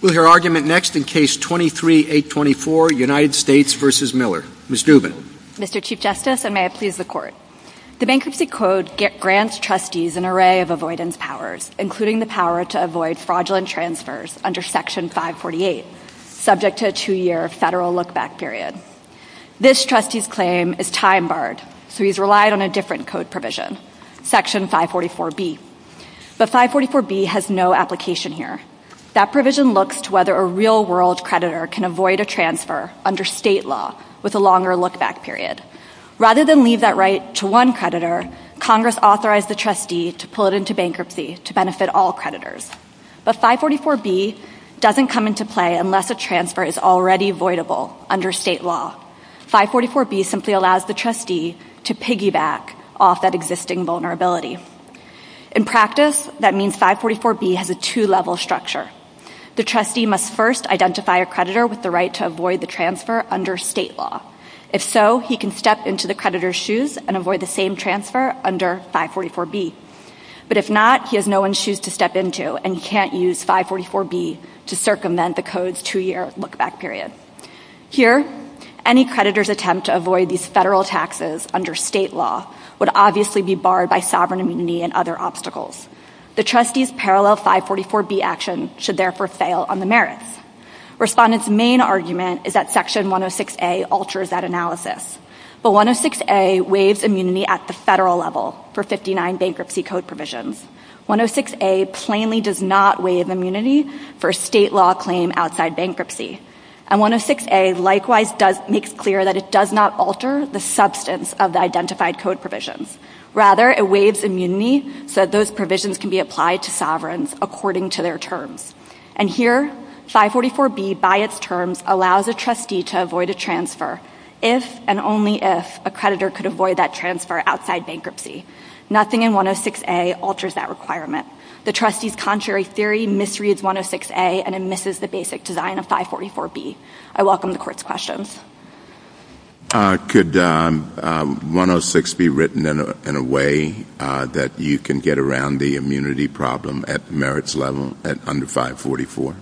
With her argument next in Case 23-824, United States v. Miller. Ms. Dubin. Mr. Chief Justice, and may it please the Court. The Bankruptcy Code grants trustees an array of avoidance powers, including the power to avoid fraudulent transfers under Section 548, subject to a two-year federal look-back period. This trustee's claim is time-barred, so he's relied on a different code provision, Section 544B. But 544B has no application here. That provision looks to whether a real-world creditor can avoid a transfer under state law with a longer look-back period. Rather than leave that right to one creditor, Congress authorized the trustee to pull it into bankruptcy to benefit all creditors. But 544B doesn't come into play unless a transfer is already avoidable under state law. 544B simply allows the trustee to piggyback off that existing vulnerability. In practice, that means 544B has a two-level structure. The trustee must first identify a creditor with the right to avoid the transfer under state law. If so, he can step into the creditor's shoes and avoid the same transfer under 544B. But if not, he has no one's shoes to step into, and he can't use 544B to circumvent the code's two-year look-back period. Here, any creditor's attempt to avoid these federal taxes under state law would obviously be barred by sovereign immunity and other obstacles. The trustee's parallel 544B action should therefore fail on the merits. Respondents' main argument is that Section 106A alters that analysis. But 106A waives immunity at the federal level for 59 bankruptcy code provisions. 106A plainly does not waive immunity for a state law claim outside bankruptcy. And 106A likewise makes clear that it does not alter the substance of the identified code provisions. Rather, it waives immunity so that those provisions can be applied to sovereigns according to their terms. And here, 544B, by its terms, allows a trustee to avoid a transfer if and only if a creditor could avoid that transfer outside bankruptcy. Nothing in 106A alters that requirement. The trustee's contrary theory misreads 106A and it misses the basic design of 544B. I welcome the Court's questions. Could 106 be written in a way that you can get around the immunity problem at merits level at under 544?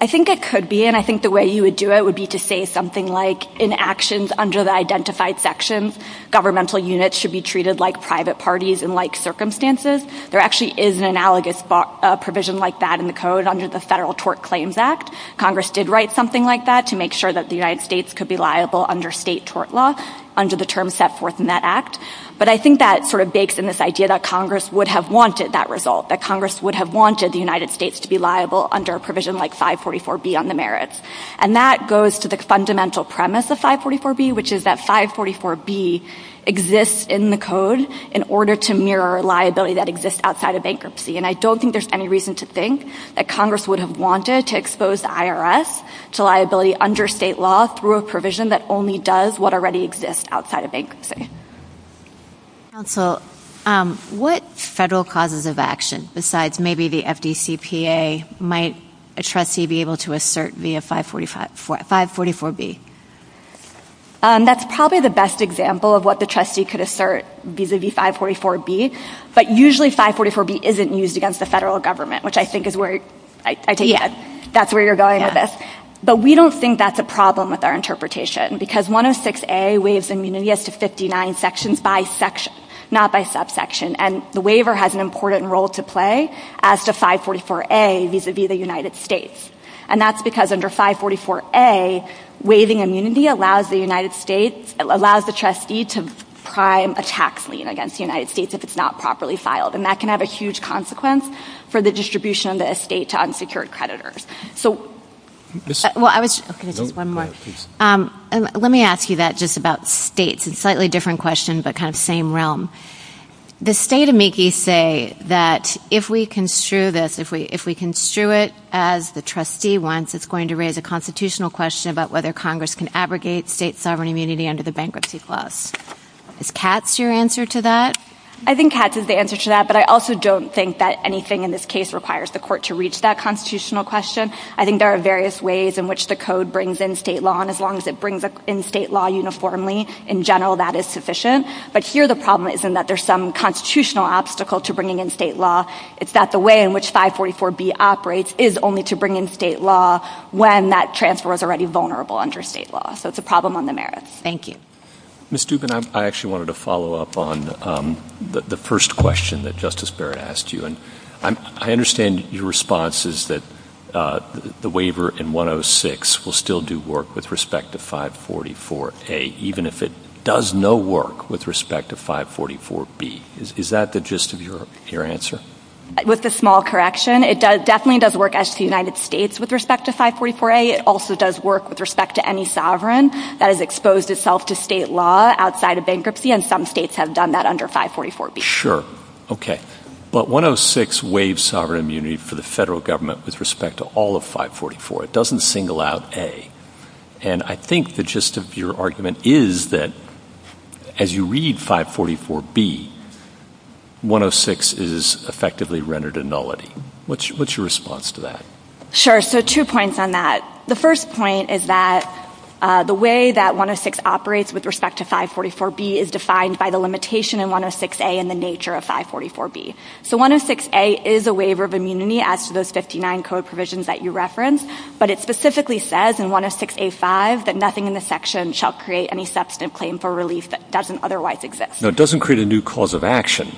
I think it could be, and I think the way you would do it would be to say something like, in actions under the identified sections, governmental units should be treated like private parties in like circumstances. There actually is an analogous provision like that in the code under the Federal Tort Claims Act. Congress did write something like that to make sure that the United States could be liable under state tort law under the terms set forth in that act. But I think that sort of bakes in this idea that Congress would have wanted that result, that Congress would have wanted the United States to be liable under a provision like 544B on the merits. And that goes to the fundamental premise of 544B, which is that 544B exists in the code in order to mirror liability that exists outside of bankruptcy. And I don't think there's any reason to think that Congress would have wanted to expose the IRS to liability under state law through a provision that only does what already exists outside of bankruptcy. Counsel, what federal causes of action, besides maybe the FDCPA, might a trustee be able to assert via 544B? That's probably the best example of what the trustee could assert vis-a-vis 544B. But usually 544B isn't used against the federal government, which I think is where I take it. That's where you're going with this. But we don't think that's a problem with our interpretation, because 106A waives immunity as to 59 sections by section, not by subsection. And the waiver has an important role to play as to 544A vis-a-vis the United States. And that's because under 544A, waiving immunity allows the trustee to prime a tax lien against the United States if it's not properly filed. And that can have a huge consequence for the distribution of the estate to unsecured creditors. Let me ask you that, just about states. It's a slightly different question, but kind of same realm. The state amici say that if we construe this, if we construe it as the trustee wants, it's going to raise a constitutional question about whether Congress can abrogate state sovereign immunity under the bankruptcy clause. Is Katz your answer to that? I think Katz is the answer to that, but I also don't think that anything in this case requires the court to reach that constitutional question. I think there are various ways in which the code brings in state law, and as long as it brings in state law uniformly, in general, that is sufficient. But here the problem isn't that there's some constitutional obstacle to bringing in state law. It's that the way in which 544B operates is only to bring in state law when that transfer is already vulnerable under state law. So it's a problem on the merits. Thank you. Ms. Dubin, I actually wanted to follow up on the first question that Justice Barrett asked you, and I understand your response is that the waiver in 106 will still do work with respect to 544A, even if it does no work with respect to 544B. Is that the gist of your answer? With a small correction, it definitely does work as does the United States with respect to 544A. It also does work with respect to any sovereign that has exposed itself to state law outside of bankruptcy, and some states have done that under 544B. Sure. Okay. But 106 waives sovereign immunity for the federal government with respect to all of 544. It doesn't single out A. And I think the gist of your argument is that as you read 544B, 106 is effectively rendered a nullity. What's your response to that? Sure. So two points on that. The first point is that the way that 106 operates with respect to 544B is defined by the limitation in 106A and the nature of 544B. So 106A is a waiver of immunity as to those 59 code provisions that you referenced, but it specifically says in 106A5 that nothing in the section shall create any substantive claim for relief that doesn't otherwise exist. No, it doesn't create a new cause of action.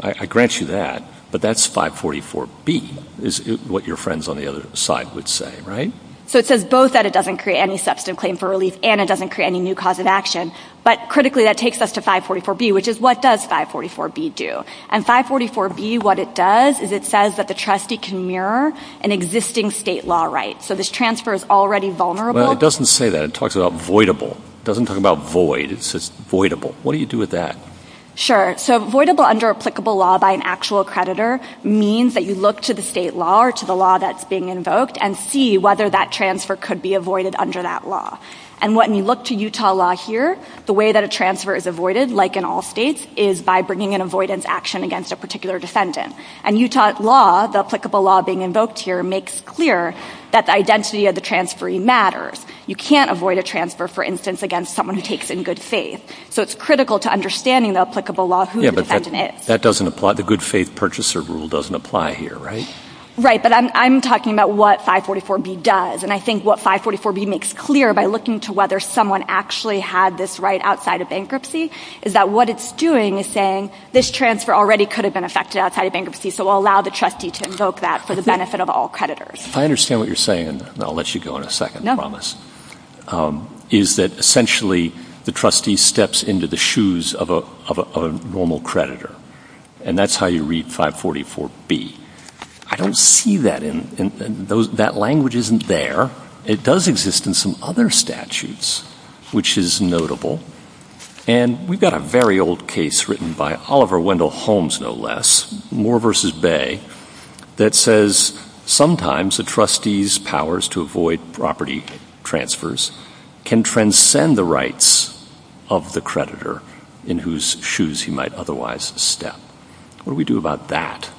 I grant you that, but that's 544B is what your friends on the other side would say, right? So it says both that it doesn't create any substantive claim for relief and it doesn't create any new cause of action, but critically that takes us to 544B, which is what does 544B do? And 544B, what it does is it says that the trustee can mirror an existing state law right. So this transfer is already vulnerable. Well, it doesn't say that. It talks about voidable. It doesn't talk about void. It says voidable. What do you do with that? Sure. So voidable under applicable law by an actual creditor means that you look to the state law or to the law that's being invoked and see whether that transfer could be avoided under that law. And when you look to Utah law here, the way that a transfer is avoided, like in all states, is by bringing an avoidance action against a particular defendant. And Utah law, the applicable law being invoked here, makes clear that the identity of the transferee matters. You can't avoid a transfer, for instance, against someone who takes in good faith. So it's critical to understanding the applicable law, who the defendant is. Yeah, but that doesn't apply. The good faith purchaser rule doesn't apply here, right? Right, but I'm talking about what 544B does. And I think what 544B makes clear by looking to whether someone actually had this right outside of bankruptcy is that what it's doing is saying this transfer already could have been affected outside of bankruptcy, so we'll allow the trustee to invoke that for the benefit of all creditors. If I understand what you're saying, and I'll let you go in a second, I promise, is that essentially the trustee steps into the shoes of a normal creditor. And that's how you read 544B. I don't see that. That language isn't there. It does exist in some other statutes, which is notable. And we've got a very old case written by Oliver Wendell Holmes, no less, Moore v. Bay, that says sometimes a trustee's powers to avoid property transfers can transcend the rights of the creditor in whose shoes he might otherwise step. What do we do about that?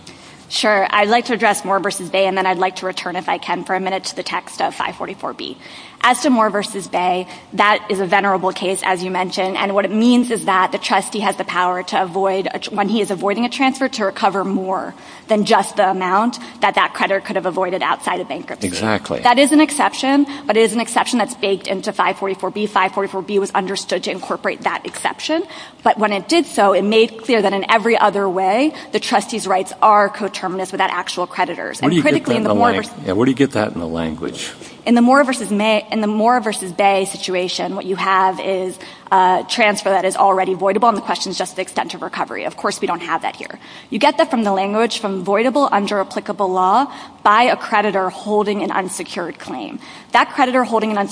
Sure. I'd like to address Moore v. Bay, and then I'd like to return, if I can, for a minute to the text of 544B. As to Moore v. Bay, that is a venerable case, as you mentioned, and what it means is that the trustee has the power to avoid, when he is avoiding a transfer, to recover more than just the amount that that creditor could have avoided outside of bankruptcy. Exactly. That is an exception, but it is an exception that's baked into 544B. 544B was understood to incorporate that exception. But when it did so, it made clear that in every other way, the trustee's rights are coterminous without actual creditors. Where do you get that in the language? In the Moore v. Bay situation, what you have is a transfer that is already avoidable, and the question is just the extent of recovery. Of course, we don't have that here. You get that from the language from avoidable under applicable law by a creditor holding an unsecured claim. That creditor holding an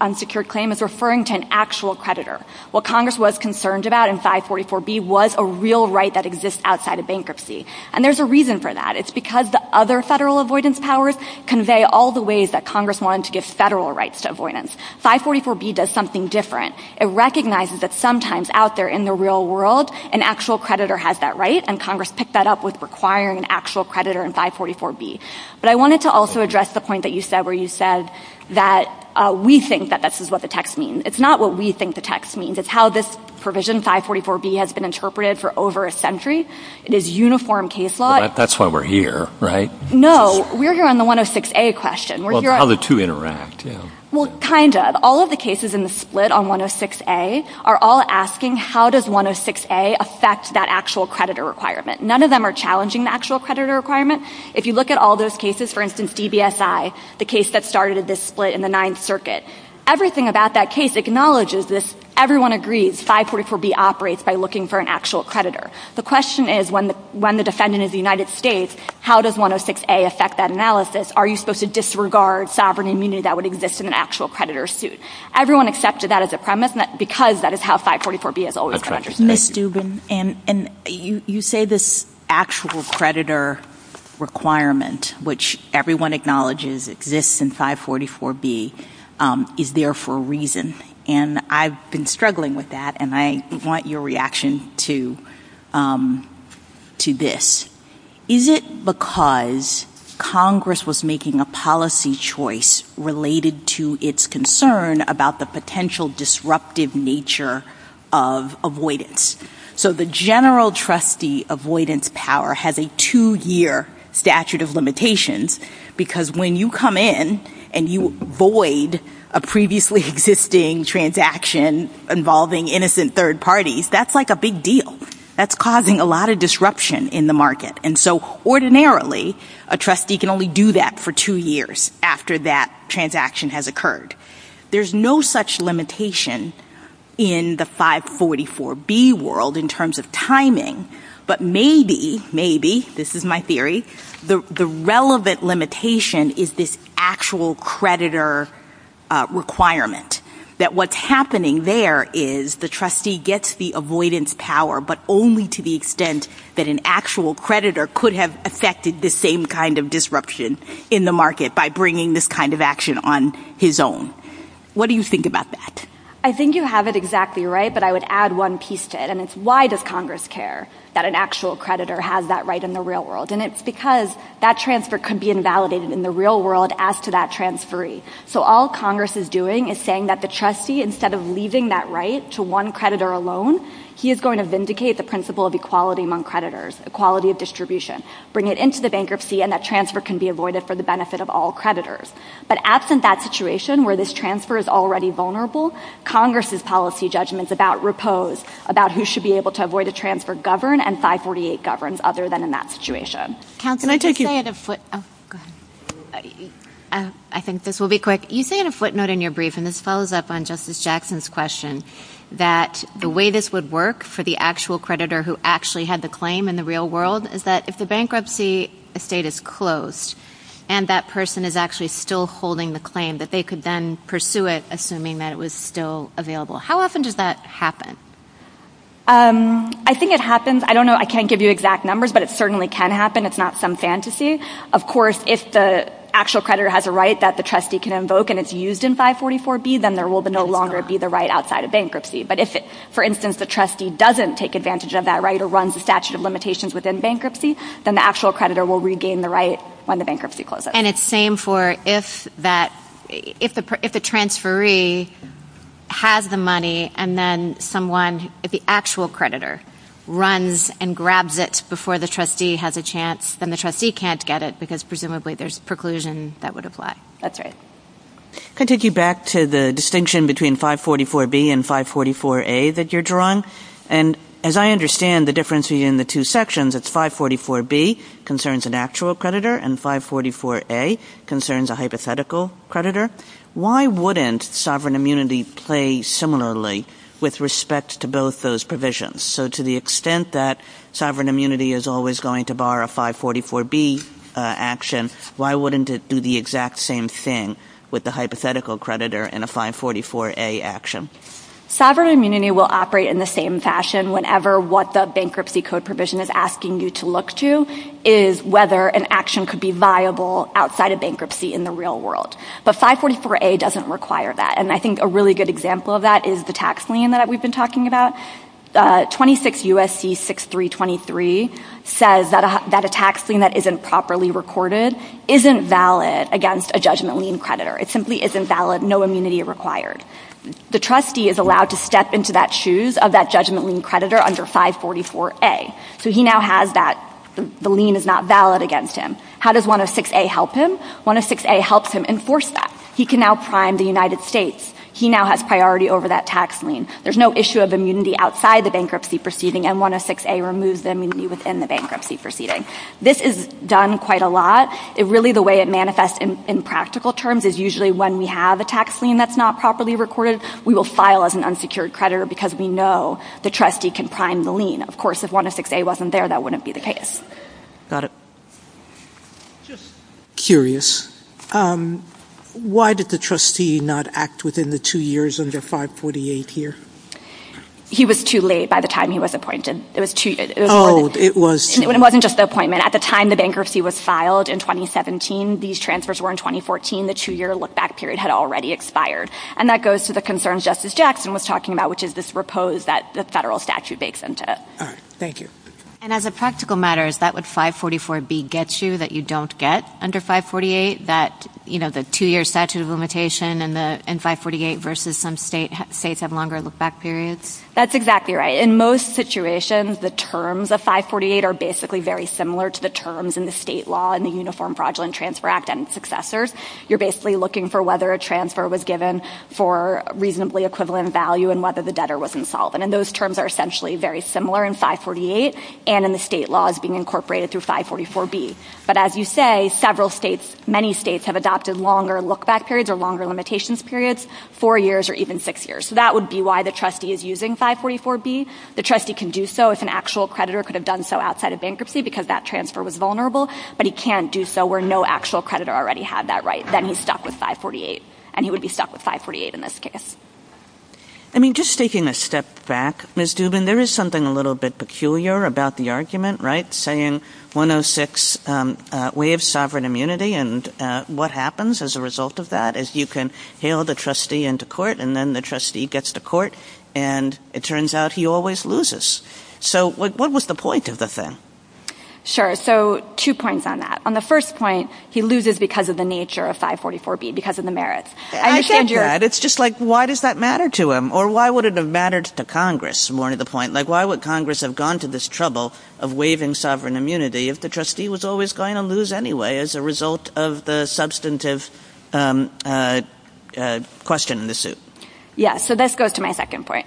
unsecured claim is referring to an actual creditor. What Congress was concerned about in 544B was a real right that exists outside of bankruptcy, and there's a reason for that. It's because the other federal avoidance powers convey all the ways that Congress wanted to give federal rights to avoidance. 544B does something different. It recognizes that sometimes out there in the real world, an actual creditor has that right, and Congress picked that up with requiring an actual creditor in 544B. But I wanted to also address the point that you said where you said that we think that this is what the text means. It's not what we think the text means. It's how this provision, 544B, has been interpreted for over a century. It is uniform case law. That's why we're here, right? No, we're here on the 106A question. How the two interact. Well, kind of. All of the cases in the split on 106A are all asking how does 106A affect that actual creditor requirement. None of them are challenging the actual creditor requirement. If you look at all those cases, for instance, DBSI, the case that started this split in the Ninth Circuit, everything about that case acknowledges this. Everyone agrees 544B operates by looking for an actual creditor. The question is when the defendant is the United States, how does 106A affect that analysis? Are you supposed to disregard sovereign immunity that would exist in an actual creditor suit? Everyone accepted that as a premise because that is how 544B has always been understood. Ms. Dubin, you say this actual creditor requirement, which everyone acknowledges exists in 544B, is there for a reason. And I've been struggling with that and I want your reaction to this. Is it because Congress was making a policy choice related to its concern about the potential disruptive nature of avoidance? So the general trustee avoidance power has a two-year statute of limitations because when you come in and you avoid a previously existing transaction involving innocent third parties, that's like a big deal. That's causing a lot of disruption in the market. And so ordinarily, a trustee can only do that for two years after that transaction has occurred. There's no such limitation in the 544B world in terms of timing. But maybe, maybe, this is my theory, the relevant limitation is this actual creditor requirement. That what's happening there is the trustee gets the avoidance power, but only to the extent that an actual creditor could have affected the same kind of disruption in the market by bringing this kind of action on his own. What do you think about that? I think you have it exactly right, but I would add one piece to it. And it's why does Congress care that an actual creditor has that right in the real world? And it's because that transfer could be invalidated in the real world as to that transferee. So all Congress is doing is saying that the trustee, instead of leaving that right to one creditor alone, he is going to vindicate the principle of equality among creditors, equality of distribution, bring it into the bankruptcy and that transfer can be avoided for the benefit of all creditors. But absent that situation where this transfer is already vulnerable, Congress's policy judgment is about repose, about who should be able to avoid the transfer, govern, and 548 governs other than in that situation. Counsel, can I take you? I think this will be quick. You say in a footnote in your brief, and this follows up on Justice Jackson's question, that the way this would work for the actual creditor who actually had the claim in the real world is that if the bankruptcy estate is closed and that person is actually still holding the claim, that they could then pursue it assuming that it was still available. How often does that happen? I think it happens. I don't know. I can't give you exact numbers, but it certainly can happen. It's not some fantasy. Of course, if the actual creditor has a right that the trustee can invoke and it's used in 544B, then there will no longer be the right outside of bankruptcy. But if, for instance, the trustee doesn't take advantage of that right or runs the statute of limitations within bankruptcy, then the actual creditor will regain the right when the bankruptcy closes. And it's same for if the transferee has the money and then someone, the actual creditor, runs and grabs it before the trustee has a chance, then the trustee can't get it because presumably there's preclusion that would apply. That's right. Can I take you back to the distinction between 544B and 544A that you're drawing? And as I understand the difference between the two sections, it's 544B concerns an actual creditor and 544A concerns a hypothetical creditor. Why wouldn't sovereign immunity play similarly with respect to both those provisions? So to the extent that sovereign immunity is always going to bar a 544B action, why wouldn't it do the exact same thing with the hypothetical creditor and a 544A action? Sovereign immunity will operate in the same fashion whenever what the bankruptcy code provision is asking you to look to is whether an action could be viable outside of bankruptcy in the real world. But 544A doesn't require that. And I think a really good example of that is the tax lien that we've been talking about. 26 U.S.C. 6323 says that a tax lien that isn't properly recorded isn't valid against a judgment lien creditor. It simply isn't valid, no immunity required. The trustee is allowed to step into that shoes of that judgment lien creditor under 544A. So he now has that, the lien is not valid against him. How does 106A help him? 106A helps him enforce that. He can now prime the United States. He now has priority over that tax lien. There's no issue of immunity outside the bankruptcy proceeding and 106A removes the immunity within the bankruptcy proceeding. This is done quite a lot. Really the way it manifests in practical terms is usually when we have a tax lien that's not properly recorded, we will file as an unsecured creditor because we know the trustee can prime the lien. Of course, if 106A wasn't there, that wouldn't be the case. Got it. Just curious, why did the trustee not act within the two years under 548 here? He was too late by the time he was appointed. Oh, it was too late. It wasn't just the appointment. At the time the bankruptcy was filed in 2017, these transfers were in 2014. The two-year look-back period had already expired. And that goes to the concerns Justice Jackson was talking about, which is this repose that the federal statute makes into it. All right. Thank you. And as a practical matter, is that what 544B gets you that you don't get under 548, that the two-year statute of limitation in 548 versus some states have longer look-back periods? That's exactly right. In most situations, the terms of 548 are basically very similar to the terms in the state law in the Uniform Fraudulent Transfer Act and its successors. You're basically looking for whether a transfer was given for reasonably equivalent value and whether the debtor was insolvent. And those terms are essentially very similar in 548 and in the state laws being incorporated through 544B. But as you say, several states, many states have adopted longer look-back periods or longer limitations periods, four years or even six years. So that would be why the trustee is using 544B. The trustee can do so if an actual creditor could have done so outside of bankruptcy because that transfer was vulnerable, but he can't do so where no actual creditor already had that right. Then he's stuck with 548, and he would be stuck with 548 in this case. I mean, just taking a step back, Ms. Dubin, there is something a little bit peculiar about the argument, right, saying 106, way of sovereign immunity, and what happens as a result of that is you can hail the trustee into court, and then the trustee gets to court, and it turns out he always loses. So what was the point of the thing? Sure. So two points on that. On the first point, he loses because of the nature of 544B, because of the merits. I get that. It's just like, why does that matter to him? Or why would it have mattered to Congress, more to the point? Like, why would Congress have gone to this trouble of waiving sovereign immunity if the trustee was always going to lose anyway as a result of the substantive question in the suit? Yes. So this goes to my second point.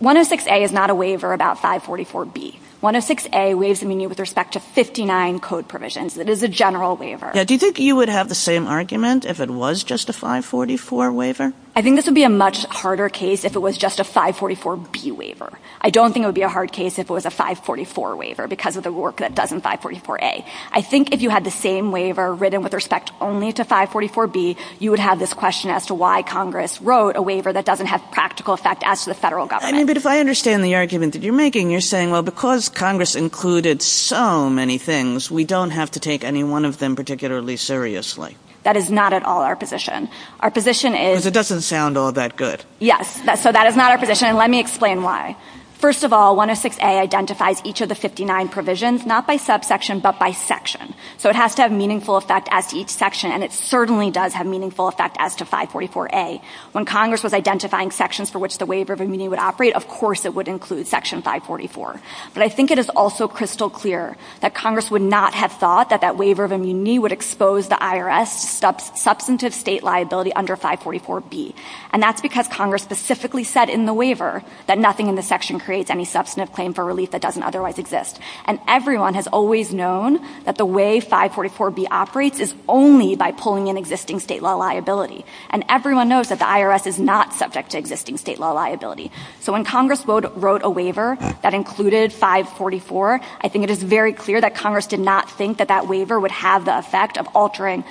106A is not a waiver about 544B. 106A waives immunity with respect to 59 code provisions. It is a general waiver. Do you think you would have the same argument if it was just a 544 waiver? I think this would be a much harder case if it was just a 544B waiver. I don't think it would be a hard case if it was a 544 waiver because of the work that it does in 544A. I think if you had the same waiver written with respect only to 544B, you would have this question as to why Congress wrote a waiver that doesn't have practical effect as to the federal government. But if I understand the argument that you're making, you're saying, well, because Congress included so many things, we don't have to take any one of them particularly seriously. That is not at all our position. Because it doesn't sound all that good. Yes, so that is not our position, and let me explain why. First of all, 106A identifies each of the 59 provisions, not by subsection, but by section. So it has to have meaningful effect as to each section, and it certainly does have meaningful effect as to 544A. When Congress was identifying sections for which the waiver of immunity would operate, of course it would include section 544. But I think it is also crystal clear that Congress would not have thought that that waiver of immunity would expose the IRS to substantive state liability under 544B. And that's because Congress specifically said in the waiver that nothing in the section creates any substantive claim for relief that doesn't otherwise exist. And everyone has always known that the way 544B operates is only by pulling in existing state law liability. And everyone knows that the IRS is not subject to existing state law liability. So when Congress wrote a waiver that included 544, I think it is very clear that Congress did not think that that waiver would have the effect of altering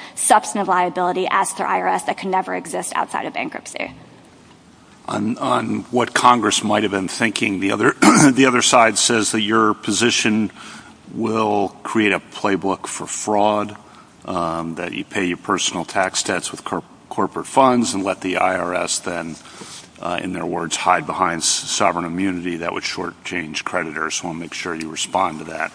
On what Congress might have been thinking, the other side says that your position will create a playbook for fraud, that you pay your personal tax debts with corporate funds and let the IRS then, in their words, hide behind sovereign immunity. That would shortchange creditors. I want to make sure you respond to that.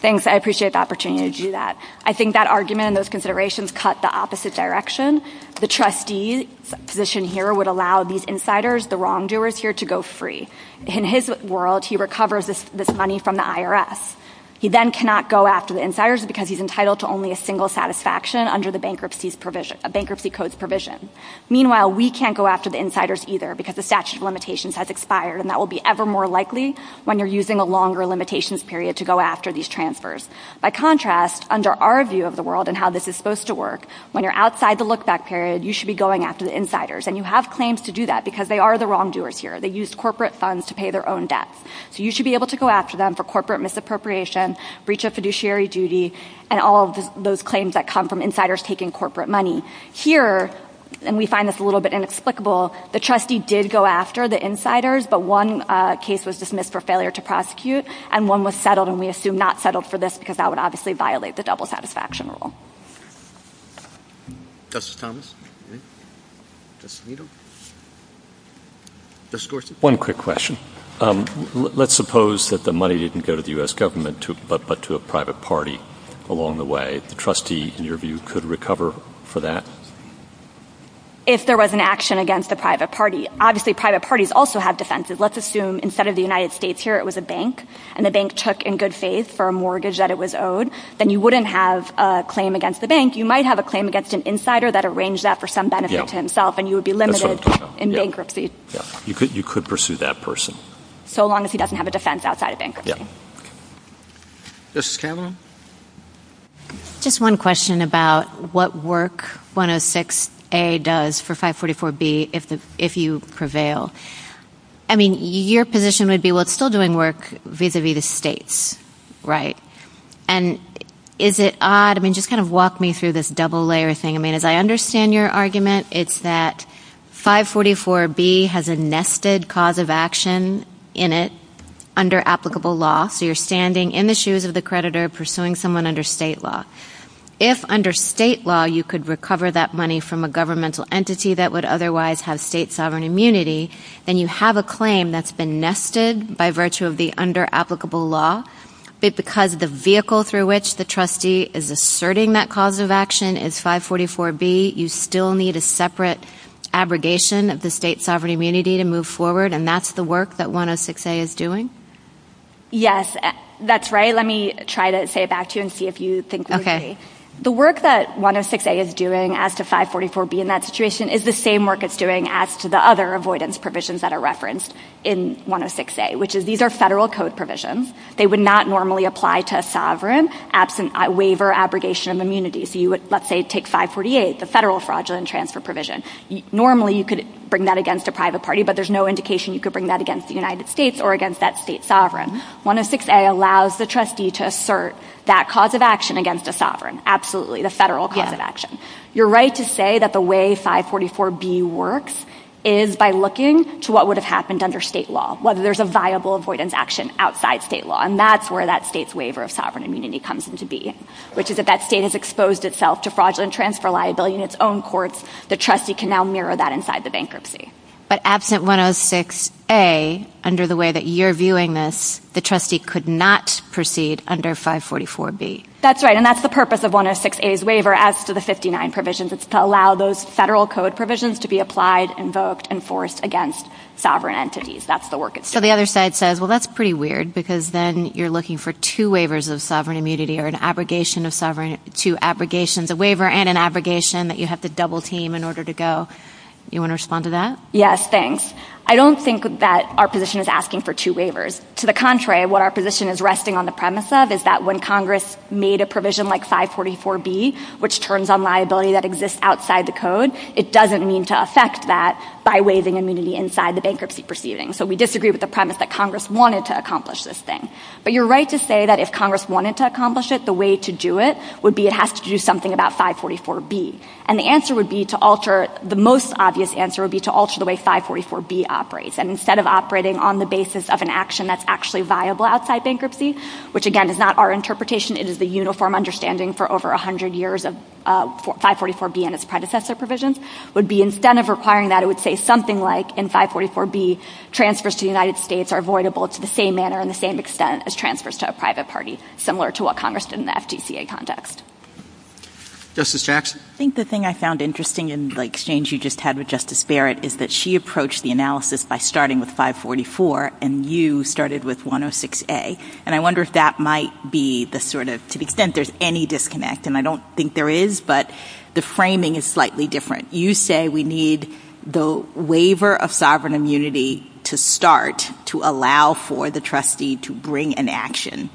Thanks. I appreciate the opportunity to do that. I think that argument and those considerations cut the opposite direction. The trustee's position here would allow these insiders, the wrongdoers here, to go free. In his world, he recovers this money from the IRS. He then cannot go after the insiders because he's entitled to only a single satisfaction under the Bankruptcy Code's provision. Meanwhile, we can't go after the insiders either because the statute of limitations has expired and that will be ever more likely when you're using a longer limitations period to go after these transfers. By contrast, under our view of the world and how this is supposed to work, when you're outside the look-back period, you should be going after the insiders. And you have claims to do that because they are the wrongdoers here. They used corporate funds to pay their own debts. So you should be able to go after them for corporate misappropriation, breach of fiduciary duty, and all of those claims that come from insiders taking corporate money. Here, and we find this a little bit inexplicable, the trustee did go after the insiders, but one case was dismissed for failure to prosecute and one was settled, and we assume not settled for this because that would obviously violate the double satisfaction rule. Justice Thomas? Justice Alito? Justice Gorsuch? One quick question. Let's suppose that the money didn't go to the U.S. government but to a private party along the way. The trustee, in your view, could recover for that? If there was an action against the private party. Obviously, private parties also have defenses. Let's assume instead of the United States here it was a bank, and the bank took in good faith for a mortgage that it was owed, then you wouldn't have a claim against the bank. You might have a claim against an insider that arranged that for some benefit to himself, and you would be limited in bankruptcy. You could pursue that person. So long as he doesn't have a defense outside of bankruptcy. Justice Kavanaugh? Just one question about what work 106A does for 544B if you prevail. I mean, your position would be, well, it's still doing work vis-a-vis the states, right? And is it odd? I mean, just kind of walk me through this double layer thing. I mean, as I understand your argument, it's that 544B has a nested cause of action in it under applicable law. So you're standing in the shoes of the creditor pursuing someone under state law. If under state law you could recover that money from a governmental entity that would otherwise have state sovereign immunity, then you have a claim that's been nested by virtue of the under applicable law, but because the vehicle through which the trustee is asserting that cause of action is 544B, you still need a separate abrogation of the state sovereign immunity to move forward, and that's the work that 106A is doing? Yes, that's right. Let me try to say it back to you and see if you think we agree. The work that 106A is doing as to 544B in that situation is the same work it's doing as to the other avoidance provisions that are referenced in 106A, which is these are federal code provisions. They would not normally apply to a sovereign absent waiver abrogation of immunity. So you would, let's say, take 548, the federal fraudulent transfer provision. Normally you could bring that against a private party, but there's no indication you could bring that against the United States or against that state sovereign. 106A allows the trustee to assert that cause of action against a sovereign, absolutely, the federal cause of action. You're right to say that the way 544B works is by looking to what would have happened under state law, whether there's a viable avoidance action outside state law, and that's where that state's waiver of sovereign immunity comes into being, which is if that state has exposed itself to fraudulent transfer liability in its own courts, the trustee can now mirror that inside the bankruptcy. But absent 106A, under the way that you're viewing this, the trustee could not proceed under 544B. That's right, and that's the purpose of 106A's waiver as to the 59 provisions. It's to allow those federal code provisions to be applied, invoked, enforced against sovereign entities. That's the work it's doing. So the other side says, well, that's pretty weird because then you're looking for two waivers of sovereign immunity or an abrogation of sovereign, two abrogations, a waiver and an abrogation that you have to double team in order to go. You want to respond to that? Yes, thanks. I don't think that our position is asking for two waivers. To the contrary, what our position is resting on the premise of is that when Congress made a provision like 544B, which turns on liability that exists outside the code, it doesn't mean to affect that by waiving immunity inside the bankruptcy proceeding. So we disagree with the premise that Congress wanted to accomplish this thing. But you're right to say that if Congress wanted to accomplish it, the way to do it would be it has to do something about 544B. And the answer would be to alter, the most obvious answer would be to alter the way 544B operates. And instead of operating on the basis of an action that's actually viable outside bankruptcy, which, again, is not our interpretation, it is the uniform understanding for over 100 years of 544B and its predecessor provisions, would be instead of requiring that, it would say something like in 544B, transfers to the United States are avoidable to the same manner and the same extent as transfers to a private party, similar to what Congress did in the FTCA context. Justice Jackson? I think the thing I found interesting in the exchange you just had with Justice Barrett is that she approached the analysis by starting with 544 and you started with 106A. And I wonder if that might be the sort of, to the extent there's any disconnect, and I don't think there is, but the framing is slightly different. You say we need the waiver of sovereign immunity to start to allow for the trustee to bring an action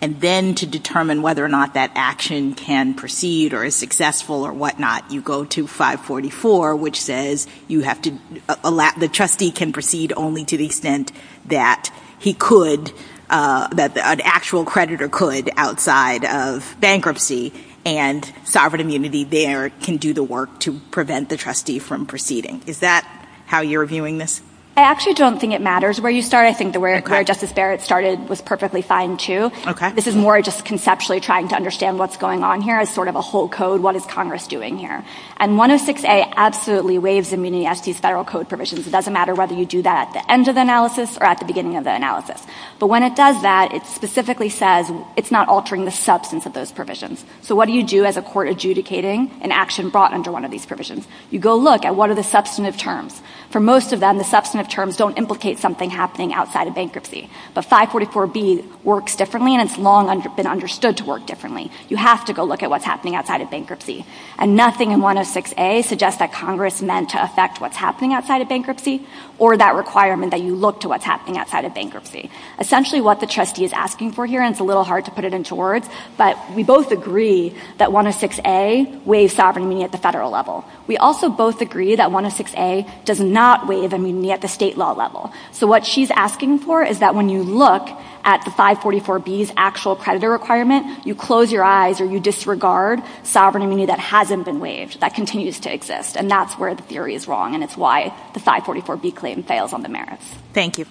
and then to determine whether or not that action can proceed or is successful or whatnot, you go to 544, which says the trustee can proceed only to the extent that he could, that an actual creditor could outside of bankruptcy, and sovereign immunity there can do the work to prevent the trustee from proceeding. Is that how you're viewing this? I actually don't think it matters where you start. I think the way Justice Barrett started was perfectly fine, too. This is more just conceptually trying to understand what's going on here as sort of a whole code. What is Congress doing here? And 106A absolutely waives immunity as to these federal code provisions. It doesn't matter whether you do that at the end of the analysis or at the beginning of the analysis. But when it does that, it specifically says it's not altering the substance of those provisions. So what do you do as a court adjudicating an action brought under one of these provisions? You go look at what are the substantive terms. For most of them, the substantive terms don't implicate something happening outside of bankruptcy. But 544B works differently, and it's long been understood to work differently. You have to go look at what's happening outside of bankruptcy. And nothing in 106A suggests that Congress meant to affect what's happening outside of bankruptcy or that requirement that you look to what's happening outside of bankruptcy. Essentially what the trustee is asking for here, and it's a little hard to put it into words, but we both agree that 106A waives sovereign immunity at the federal level. We also both agree that 106A does not waive immunity at the state law level. So what she's asking for is that when you look at the 544B's actual creditor requirement, you close your eyes or you disregard sovereign immunity that hasn't been waived, that continues to exist. And that's where the theory is wrong, and it's why the 544B claim fails on the merits. Thank you.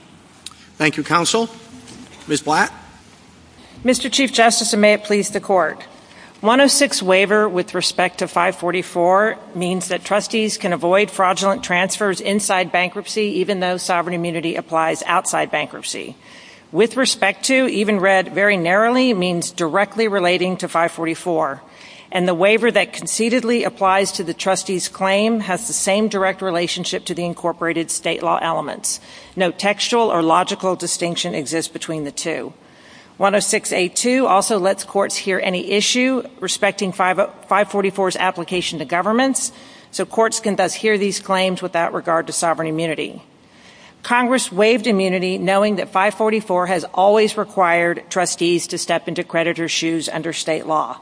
Thank you, counsel. Ms. Blatt. Mr. Chief Justice, and may it please the Court. 106 waiver with respect to 544 means that trustees can avoid fraudulent transfers inside bankruptcy even though sovereign immunity applies outside bankruptcy. With respect to, even read very narrowly, means directly relating to 544. And the waiver that concededly applies to the trustee's claim has the same direct relationship to the incorporated state law elements. No textual or logical distinction exists between the two. 106A2 also lets courts hear any issue respecting 544's application to governments, so courts can thus hear these claims without regard to sovereign immunity. Congress waived immunity knowing that 544 has always required trustees to step into creditor's shoes under state law.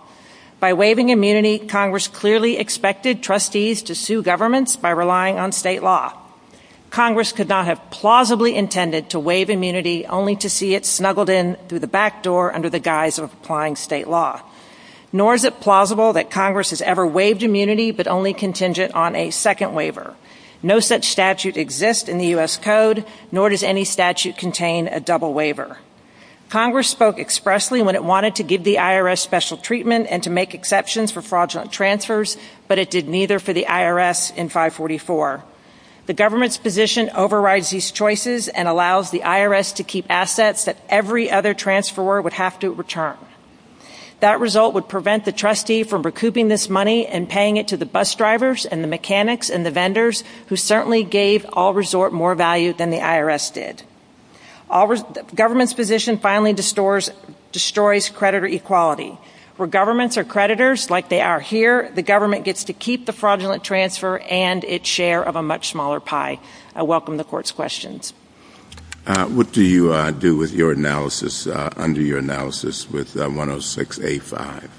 By waiving immunity, Congress clearly expected trustees to sue governments by relying on state law. Congress could not have plausibly intended to waive immunity only to see it snuggled in through the back door under the guise of applying state law. Nor is it plausible that Congress has ever waived immunity but only contingent on a second waiver. No such statute exists in the U.S. Code, nor does any statute contain a double waiver. Congress spoke expressly when it wanted to give the IRS special treatment and to make exceptions for fraudulent transfers, but it did neither for the IRS in 544. The government's position overrides these choices and allows the IRS to keep assets that every other transferor would have to return. That result would prevent the trustee from recouping this money and paying it to the bus drivers and the mechanics and the vendors, who certainly gave All Resort more value than the IRS did. The government's position finally destroys creditor equality. Where governments are creditors, like they are here, the government gets to keep the fraudulent transfer and its share of a much smaller pie. I welcome the court's questions. What do you do with your analysis under your analysis with 106A5?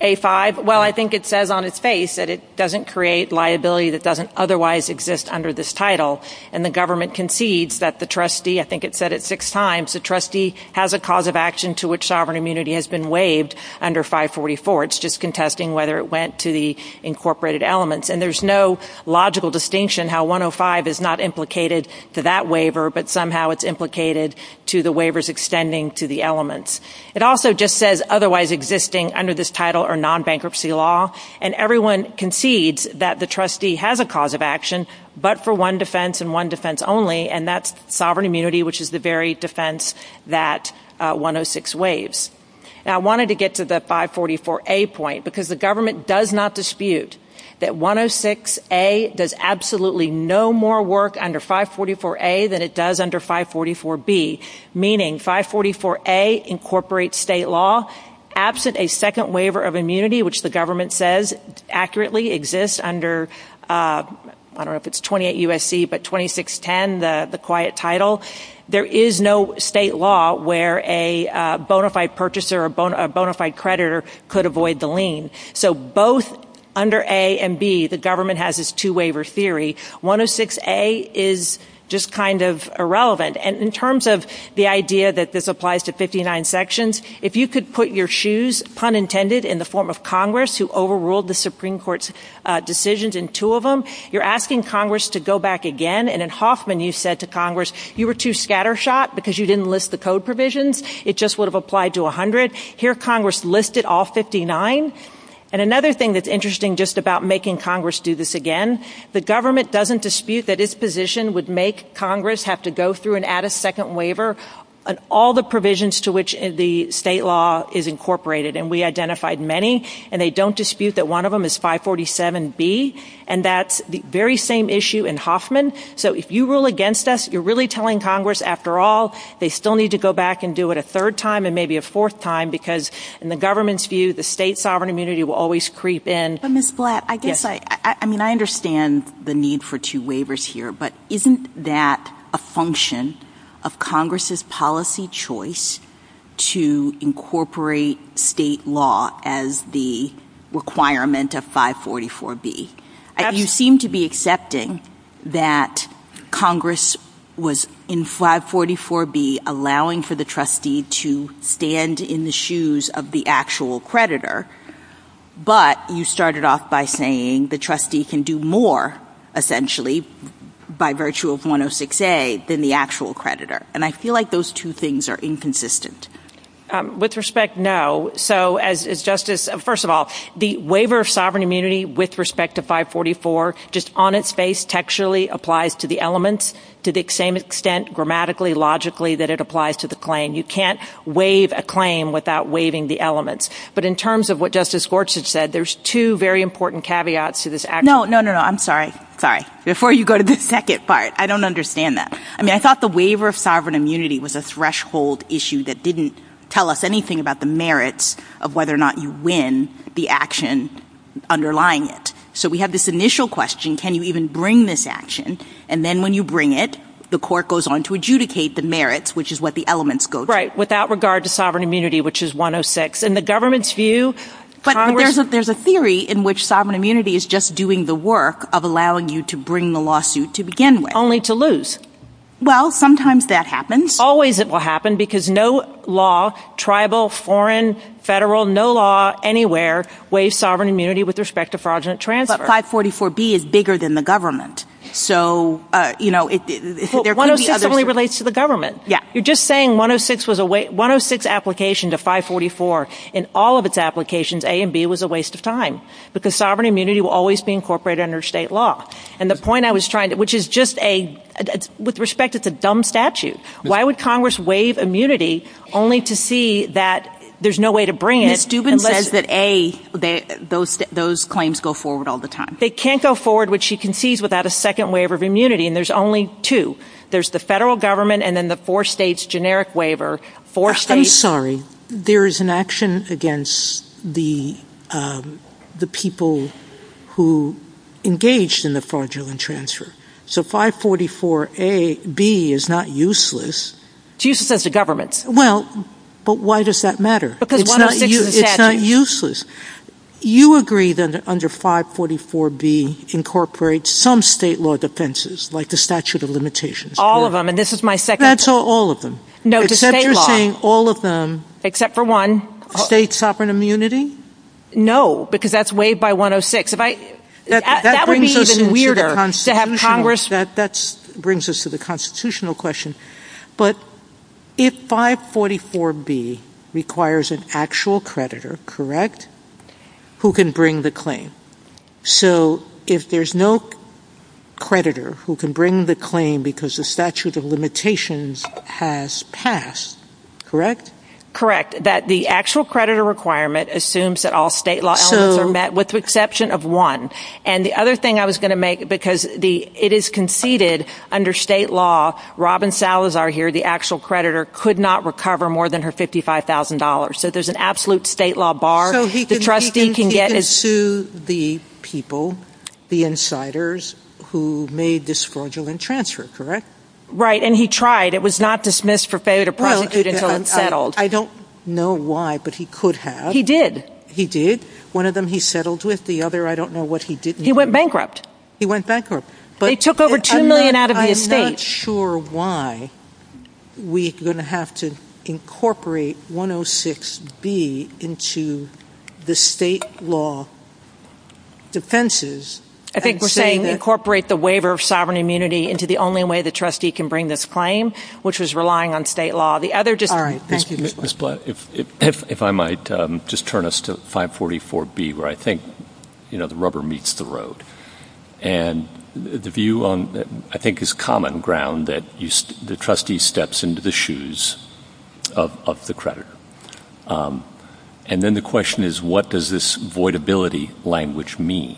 A5, well, I think it says on its face that it doesn't create liability that doesn't otherwise exist under this title. And the government concedes that the trustee, I think it said it six times, the trustee has a cause of action to which sovereign immunity has been waived under 544. It's just contesting whether it went to the incorporated elements. And there's no logical distinction how 105 is not implicated to that waiver, but somehow it's implicated to the waivers extending to the elements. It also just says otherwise existing under this title or non-bankruptcy law. And everyone concedes that the trustee has a cause of action, but for one defense and one defense only, and that's sovereign immunity, which is the very defense that 106 waives. Now, I wanted to get to the 544A point because the government does not dispute that 106A does absolutely no more work under 544A than it does under 544B, meaning 544A incorporates state law. Absent a second waiver of immunity, which the government says accurately exists under, I don't know if it's 28 USC, but 2610, the quiet title, there is no state law where a bona fide purchaser or bona fide creditor could avoid the lien. So both under A and B, the government has this two waiver theory. 106A is just kind of irrelevant. And in terms of the idea that this applies to 59 sections, if you could put your shoes, pun intended, in the form of Congress who overruled the Supreme Court's decisions in two of them, you're asking Congress to go back again. And in Hoffman, you said to Congress, you were too scattershot because you didn't list the code provisions. It just would have applied to 100. Here Congress listed all 59. And another thing that's interesting just about making Congress do this again, the government doesn't dispute that its position would make Congress have to go through and add a second waiver on all the provisions to which the state law is incorporated. And we identified many, and they don't dispute that one of them is 547B. And that's the very same issue in Hoffman. So if you rule against us, you're really telling Congress, after all, they still need to go back and do it a third time and maybe a fourth time, because in the government's view, the state sovereign immunity will always creep in. But, Ms. Blatt, I guess I understand the need for two waivers here. But isn't that a function of Congress's policy choice to incorporate state law as the requirement of 544B? You seem to be accepting that Congress was, in 544B, allowing for the trustee to stand in the shoes of the actual creditor. But you started off by saying the trustee can do more, essentially, by virtue of 106A, than the actual creditor. And I feel like those two things are inconsistent. With respect, no. So, as Justice, first of all, the waiver of sovereign immunity with respect to 544, just on its face textually applies to the elements to the same extent grammatically, logically, that it applies to the claim. You can't waive a claim without waiving the elements. But in terms of what Justice Gorsuch said, there's two very important caveats to this action. No, no, no, no. I'm sorry. Sorry. Before you go to the second part, I don't understand that. I mean, I thought the waiver of sovereign immunity was a threshold issue that didn't tell us anything about the merits of whether or not you win the action underlying it. So we have this initial question, can you even bring this action? And then when you bring it, the court goes on to adjudicate the merits, which is what the elements go to. Right. Without regard to sovereign immunity, which is 106. In the government's view, Congress— But there's a theory in which sovereign immunity is just doing the work of allowing you to bring the lawsuit to begin with. Only to lose. Well, sometimes that happens. Always it will happen because no law, tribal, foreign, federal, no law anywhere waives sovereign immunity with respect to fraudulent transfer. But 544B is bigger than the government. So, you know, there could be others— Well, 106 only relates to the government. Yeah. You're just saying 106 was a—106 application to 544, in all of its applications, A and B was a waste of time. Because sovereign immunity will always be incorporated under state law. And the point I was trying to—which is just a—with respect, it's a dumb statute. Why would Congress waive immunity only to see that there's no way to bring it unless— Ms. Dubin says that A, those claims go forward all the time. They can't go forward, which she concedes, without a second waiver of immunity. And there's only two. There's the federal government and then the four states' generic waiver. Four states— I'm sorry. There is an action against the people who engaged in the fraudulent transfer. So 544B is not useless. It's useless as a government. Well, but why does that matter? Because 106 is a statute. It's not useless. You agree that under 544B incorporates some state law defenses, like the statute of limitations. All of them. And this is my second— That's all of them. No, to state law. Except you're saying all of them— Except for one. State sovereign immunity? No, because that's waived by 106. If I—that would be even weirder to have Congress— That brings us to the constitutional question. But if 544B requires an actual creditor, correct, who can bring the claim? So if there's no creditor who can bring the claim because the statute of limitations has passed, correct? Correct. That the actual creditor requirement assumes that all state law elements are met with the exception of one. And the other thing I was going to make, because it is conceded under state law, Robin Salazar here, the actual creditor, could not recover more than her $55,000. So there's an absolute state law bar. The trustee can get— So he can sue the people, the insiders who made this fraudulent transfer, correct? Right, and he tried. It was not dismissed for failure to prosecute until it settled. I don't know why, but he could have. He did. He did. One of them he settled with. The other, I don't know what he did. He went bankrupt. He went bankrupt. He took over $2 million out of the estate. I'm not sure why we're going to have to incorporate 106B into the state law defenses and say that— I think we're saying incorporate the waiver of sovereign immunity into the only way the trustee can bring this claim, which was relying on state law. All right. Thank you, Ms. Blatt. If I might, just turn us to 544B, where I think the rubber meets the road. And the view, I think, is common ground that the trustee steps into the shoes of the creditor. And then the question is, what does this voidability language mean?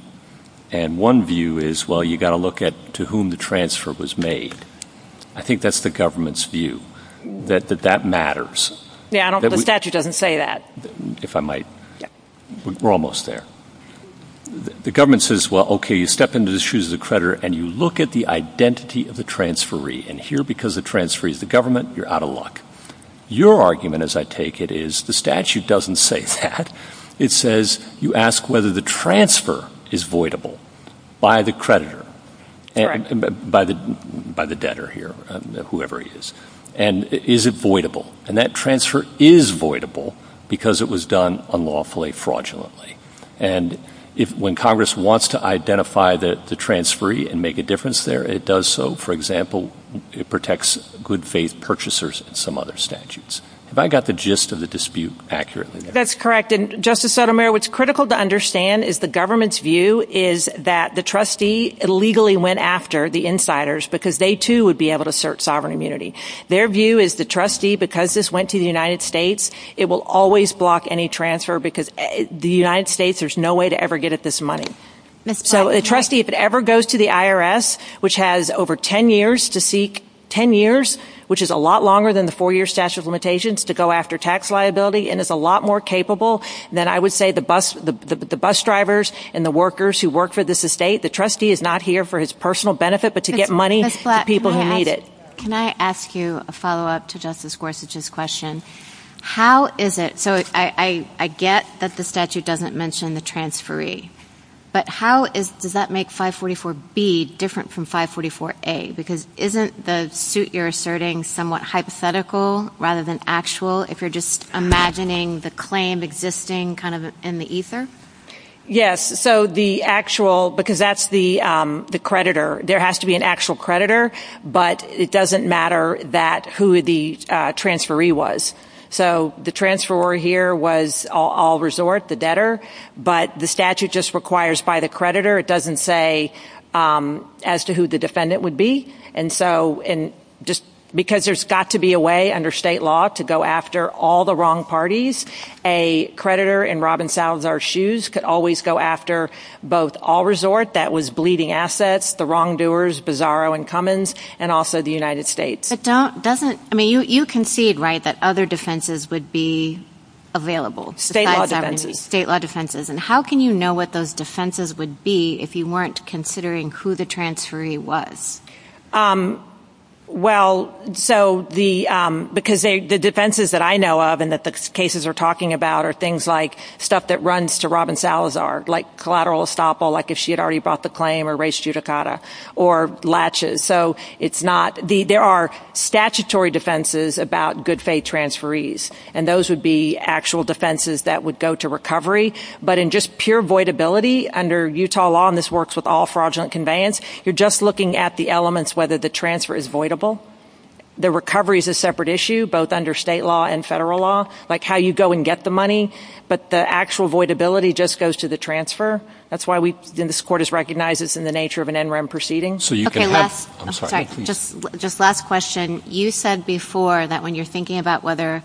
And one view is, well, you've got to look at to whom the transfer was made. I think that's the government's view, that that matters. Yeah, I don't know. The statute doesn't say that. If I might. We're almost there. The government says, well, okay, you step into the shoes of the creditor, and you look at the identity of the transferee. And here, because the transferee is the government, you're out of luck. Your argument, as I take it, is the statute doesn't say that. It says you ask whether the transfer is voidable by the creditor, by the debtor here, whoever he is. And is it voidable? And that transfer is voidable because it was done unlawfully, fraudulently. And when Congress wants to identify the transferee and make a difference there, it does so. For example, it protects good-faith purchasers and some other statutes. Have I got the gist of the dispute accurately? That's correct. And, Justice Sotomayor, what's critical to understand is the government's view is that the trustee illegally went after the insiders because they, too, would be able to assert sovereign immunity. Their view is the trustee, because this went to the United States, it will always block any transfer because the United States, there's no way to ever get at this money. So, a trustee, if it ever goes to the IRS, which has over 10 years to seek, 10 years, which is a lot longer than the four-year statute of limitations, to go after tax liability and is a lot more capable than, I would say, the bus drivers and the workers who work for this estate, the trustee is not here for his personal benefit but to get money to people who need it. Can I ask you a follow-up to Justice Gorsuch's question? How is it? So, I get that the statute doesn't mention the transferee, but how does that make 544B different from 544A? Because isn't the suit you're asserting somewhat hypothetical rather than actual, if you're just imagining the claim existing kind of in the ether? Yes. So, the actual, because that's the creditor. There has to be an actual creditor, but it doesn't matter who the transferee was. So, the transferor here was all resort, the debtor, but the statute just requires by the creditor. It doesn't say as to who the defendant would be. And so, because there's got to be a way under state law to go after all the wrong parties, a creditor in Robin Salazar's shoes could always go after both all resort, that was bleeding assets, the wrongdoers, Bizarro and Cummins, and also the United States. But doesn't, I mean, you concede, right, that other defenses would be available? State law defenses. State law defenses. And how can you know what those defenses would be if you weren't considering who the transferee was? Well, so, because the defenses that I know of and that the cases are talking about are things like stuff that runs to Robin Salazar, like collateral estoppel, like if she had already brought the claim or raised judicata, or latches. So, it's not, there are statutory defenses about good faith transferees, and those would be actual defenses that would go to recovery. But in just pure voidability under Utah law, and this works with all fraudulent conveyance, you're just looking at the elements whether the transfer is voidable. The recovery is a separate issue, both under state law and federal law, like how you go and get the money. But the actual voidability just goes to the transfer. That's why we, and this court has recognized this in the nature of an NREM proceeding. Okay, last, I'm sorry, just last question. You said before that when you're thinking about whether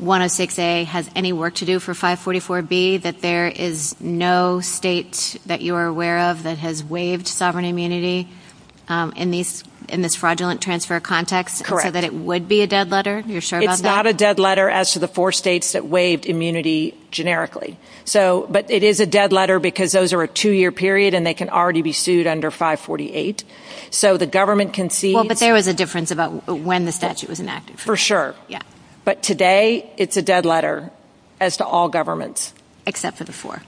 106A has any work to do for 544B, that there is no state that you are aware of that has waived sovereign immunity in this fraudulent transfer context. Correct. So that it would be a dead letter? You're sure about that? It's not a dead letter as to the four states that waived immunity generically. So, but it is a dead letter because those are a two-year period, and they can already be sued under 548. So the government concedes. Well, but there was a difference about when the statute was enacted. For sure. Yeah. But today, it's a dead letter as to all governments. Except for the four.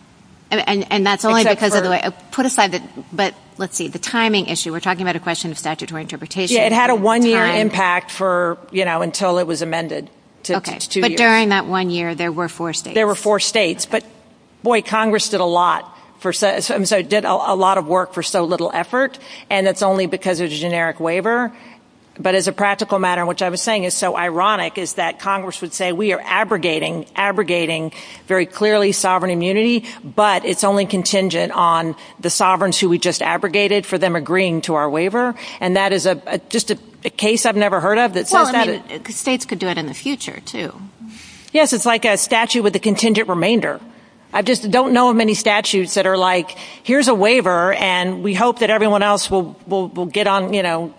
And that's only because of the way, put aside the, but let's see, the timing issue. We're talking about a question of statutory interpretation. Yeah, it had a one-year impact for, you know, until it was amended to two years. Okay, but during that one year, there were four states. There were four states. But, boy, Congress did a lot for, I'm sorry, did a lot of work for so little effort. And it's only because of the generic waiver. But as a practical matter, which I was saying is so ironic, is that Congress would say, we are abrogating, abrogating very clearly sovereign immunity. But it's only contingent on the sovereigns who we just abrogated for them agreeing to our waiver. And that is just a case I've never heard of that says that. Well, I mean, states could do it in the future, too. Yes, it's like a statute with a contingent remainder. I just don't know of many statutes that are like, here's a waiver, and we hope that everyone else will get on, you know.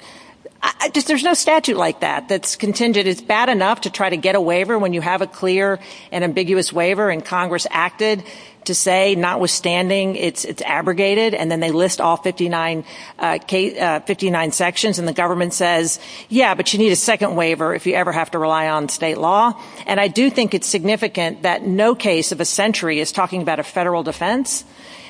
There's no statute like that, that's contingent. It's bad enough to try to get a waiver when you have a clear and ambiguous waiver. And Congress acted to say, notwithstanding, it's abrogated. And then they list all 59 sections. And the government says, yeah, but you need a second waiver if you ever have to rely on state law. And I do think it's significant that no case of a century is talking about a federal defense.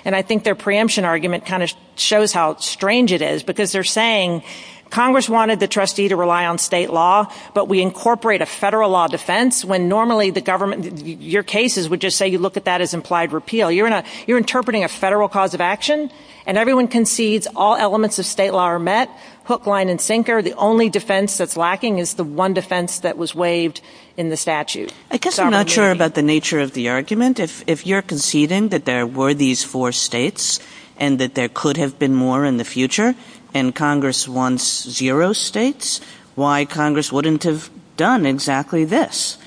And I think their preemption argument kind of shows how strange it is. Because they're saying, Congress wanted the trustee to rely on state law, but we incorporate a federal law defense when normally the government, your cases would just say you look at that as implied repeal. You're interpreting a federal cause of action. And everyone concedes all elements of state law are met, hook, line and sinker. The only defense that's lacking is the one defense that was waived in the statute. I guess I'm not sure about the nature of the argument. If you're conceding that there were these four states and that there could have been more in the future and Congress wants zero states, why Congress wouldn't have done exactly this?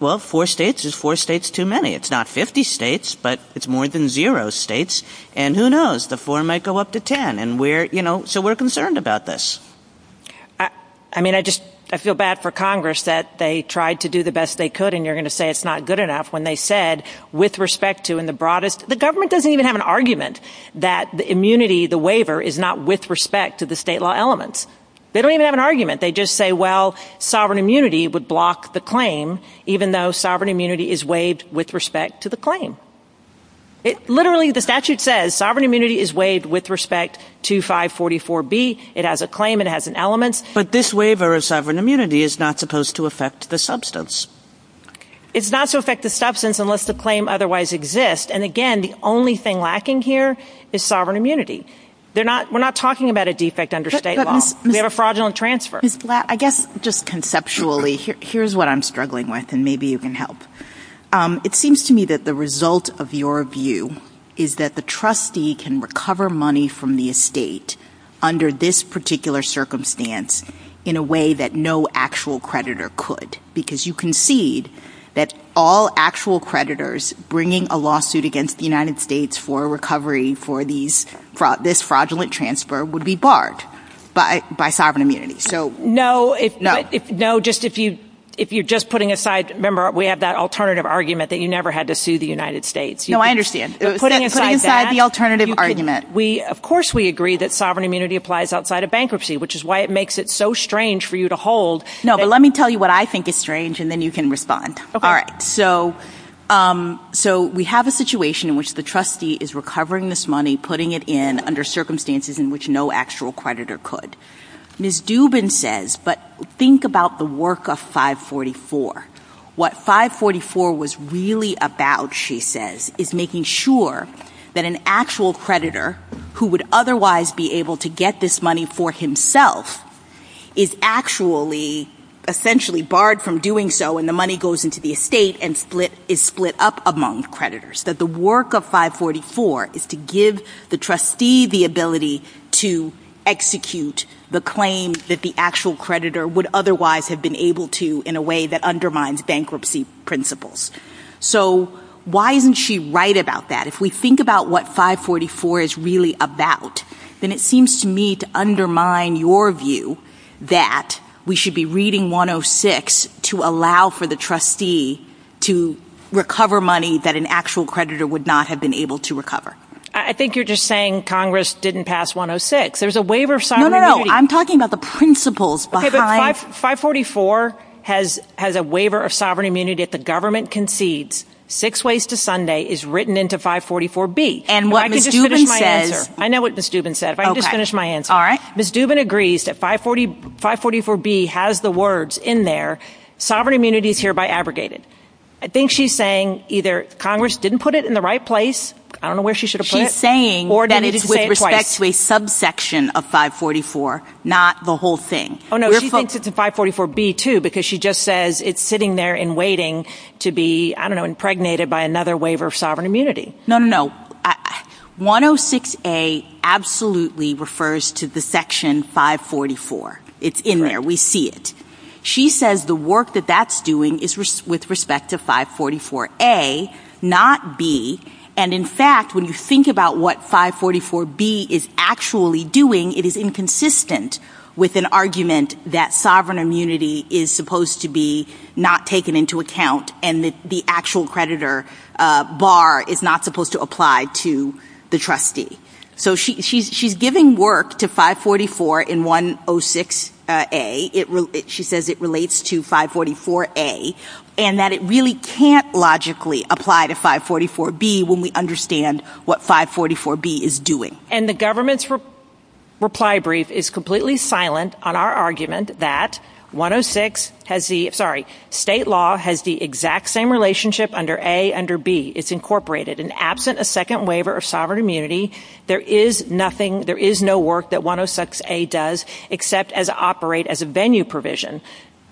Well, four states is four states too many. It's not 50 states, but it's more than zero states. And who knows, the four might go up to ten. And we're, you know, so we're concerned about this. I mean, I just, I feel bad for Congress that they tried to do the best they could and you're going to say it's not good enough when they said with respect to in the broadest, the government doesn't even have an argument that the immunity, the waiver, is not with respect to the state law elements. They don't even have an argument. They just say, well, sovereign immunity would block the claim, even though sovereign immunity is waived with respect to the claim. Literally, the statute says sovereign immunity is waived with respect to 544B. It has a claim. It has an element. But this waiver of sovereign immunity is not supposed to affect the substance. It's not to affect the substance unless the claim otherwise exists. And again, the only thing lacking here is sovereign immunity. We're not talking about a defect under state law. We have a fraudulent transfer. Ms. Blatt, I guess just conceptually, here's what I'm struggling with and maybe you can help. It seems to me that the result of your view is that the trustee can recover money from the estate under this particular circumstance in a way that no actual creditor could because you concede that all actual creditors bringing a lawsuit against the United States for recovery for this fraudulent transfer would be barred by sovereign immunity. No. No, just if you're just putting aside. Remember, we have that alternative argument that you never had to sue the United States. No, I understand. Putting aside that. Putting aside the alternative argument. Of course we agree that sovereign immunity applies outside of bankruptcy, which is why it makes it so strange for you to hold. No, but let me tell you what I think is strange and then you can respond. All right. So we have a situation in which the trustee is recovering this money, putting it in under circumstances in which no actual creditor could. Ms. Dubin says, but think about the work of 544. What 544 was really about, she says, is making sure that an actual creditor who would otherwise be able to get this money for himself is actually essentially barred from doing so and the money goes into the estate and is split up among creditors. That the work of 544 is to give the trustee the ability to execute the claim that the actual creditor would otherwise have been able to in a way that undermines bankruptcy principles. So why isn't she right about that? If we think about what 544 is really about, then it seems to me to undermine your view that we should be reading 106 to allow for the trustee to recover money that an actual creditor would not have been able to recover. I think you're just saying Congress didn't pass 106. There's a waiver of sovereign immunity. No, no, no. I'm talking about the principles behind. Okay, but 544 has a waiver of sovereign immunity that the government concedes six ways to Sunday is written into 544B. And what Ms. Dubin says. I know what Ms. Dubin said. If I can just finish my answer. All right. Ms. Dubin agrees that 544B has the words in there, sovereign immunity is hereby abrogated. I think she's saying either Congress didn't put it in the right place. I don't know where she should have put it. She's saying that it's with respect to a subsection of 544, not the whole thing. Oh, no, she thinks it's in 544B, too, because she just says it's sitting there and waiting to be, I don't know, impregnated by another waiver of sovereign immunity. No, no, no. 106A absolutely refers to the section 544. It's in there. We see it. She says the work that that's doing is with respect to 544A, not B. And, in fact, when you think about what 544B is actually doing, it is inconsistent with an argument that sovereign immunity is supposed to be not taken into account and the actual creditor bar is not supposed to apply to the trustee. So she's giving work to 544 in 106A. She says it relates to 544A and that it really can't logically apply to 544B when we understand what 544B is doing. And the government's reply brief is completely silent on our argument that 106 has the, sorry, state law has the exact same relationship under A under B. It's incorporated. And absent a second waiver of sovereign immunity, there is nothing, there is no work that 106A does except as operate as a venue provision.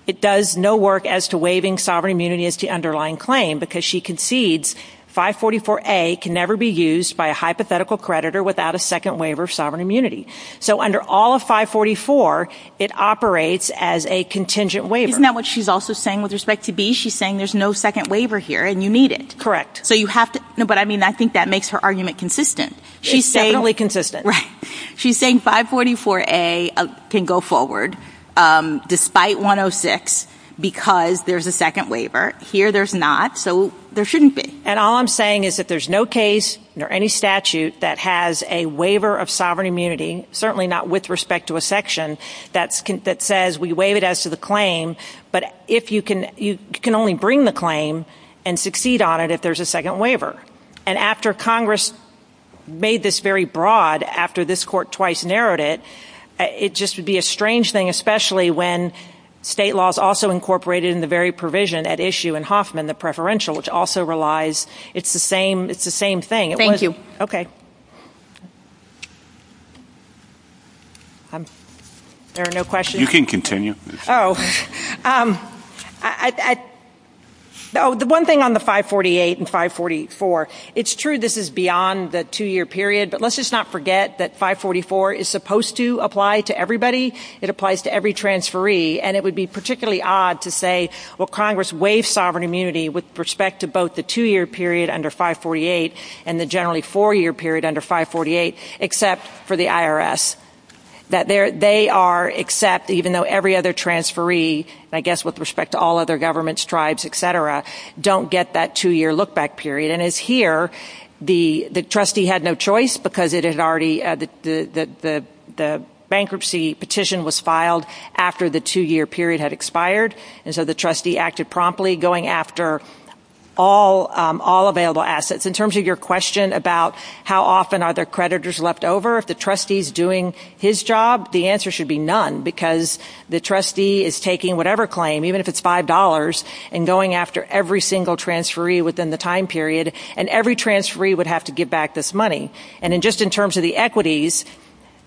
It does no work as to waiving sovereign immunity as the underlying claim because she concedes 544A can never be used by a hypothetical creditor without a second waiver of sovereign immunity. So under all of 544, it operates as a contingent waiver. Isn't that what she's also saying with respect to B? She's saying there's no second waiver here and you need it. Correct. So you have to, but I mean, I think that makes her argument consistent. It's definitely consistent. Right. She's saying 544A can go forward despite 106 because there's a second waiver. Here there's not, so there shouldn't be. And all I'm saying is that there's no case nor any statute that has a waiver of sovereign immunity, certainly not with respect to a section that says we waive it as to the claim, but you can only bring the claim and succeed on it if there's a second waiver. And after Congress made this very broad, after this court twice narrowed it, it just would be a strange thing, especially when state law is also incorporated in the very provision at issue in Hoffman, the preferential, which also relies, it's the same thing. Thank you. Okay. There are no questions? You can continue. Oh. The one thing on the 548 and 544, it's true this is beyond the two-year period, but let's just not forget that 544 is supposed to apply to everybody. It applies to every transferee. And it would be particularly odd to say, well, Congress waived sovereign immunity with respect to both the two-year period under 548 and the generally four-year period under 548 except for the IRS. They are except, even though every other transferee, I guess with respect to all other governments, tribes, et cetera, don't get that two-year look-back period. And as here, the trustee had no choice because it had already, the bankruptcy petition was filed after the two-year period had expired, and so the trustee acted promptly going after all available assets. In terms of your question about how often are there creditors left over, if the trustee is doing his job, the answer should be none because the trustee is taking whatever claim, even if it's $5, and going after every single transferee within the time period, and every transferee would have to give back this money. And just in terms of the equities,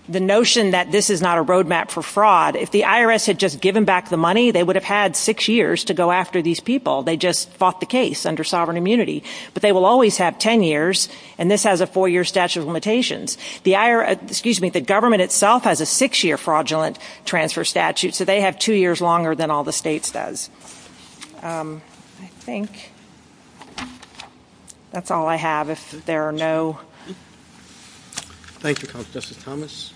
the notion that this is not a roadmap for fraud, if the IRS had just given back the money, they would have had six years to go after these people. They just fought the case under sovereign immunity. But they will always have ten years, and this has a four-year statute of limitations. The government itself has a six-year fraudulent transfer statute, so they have two years longer than all the states does. I think that's all I have. If there are no... Thank you, Justice Thomas.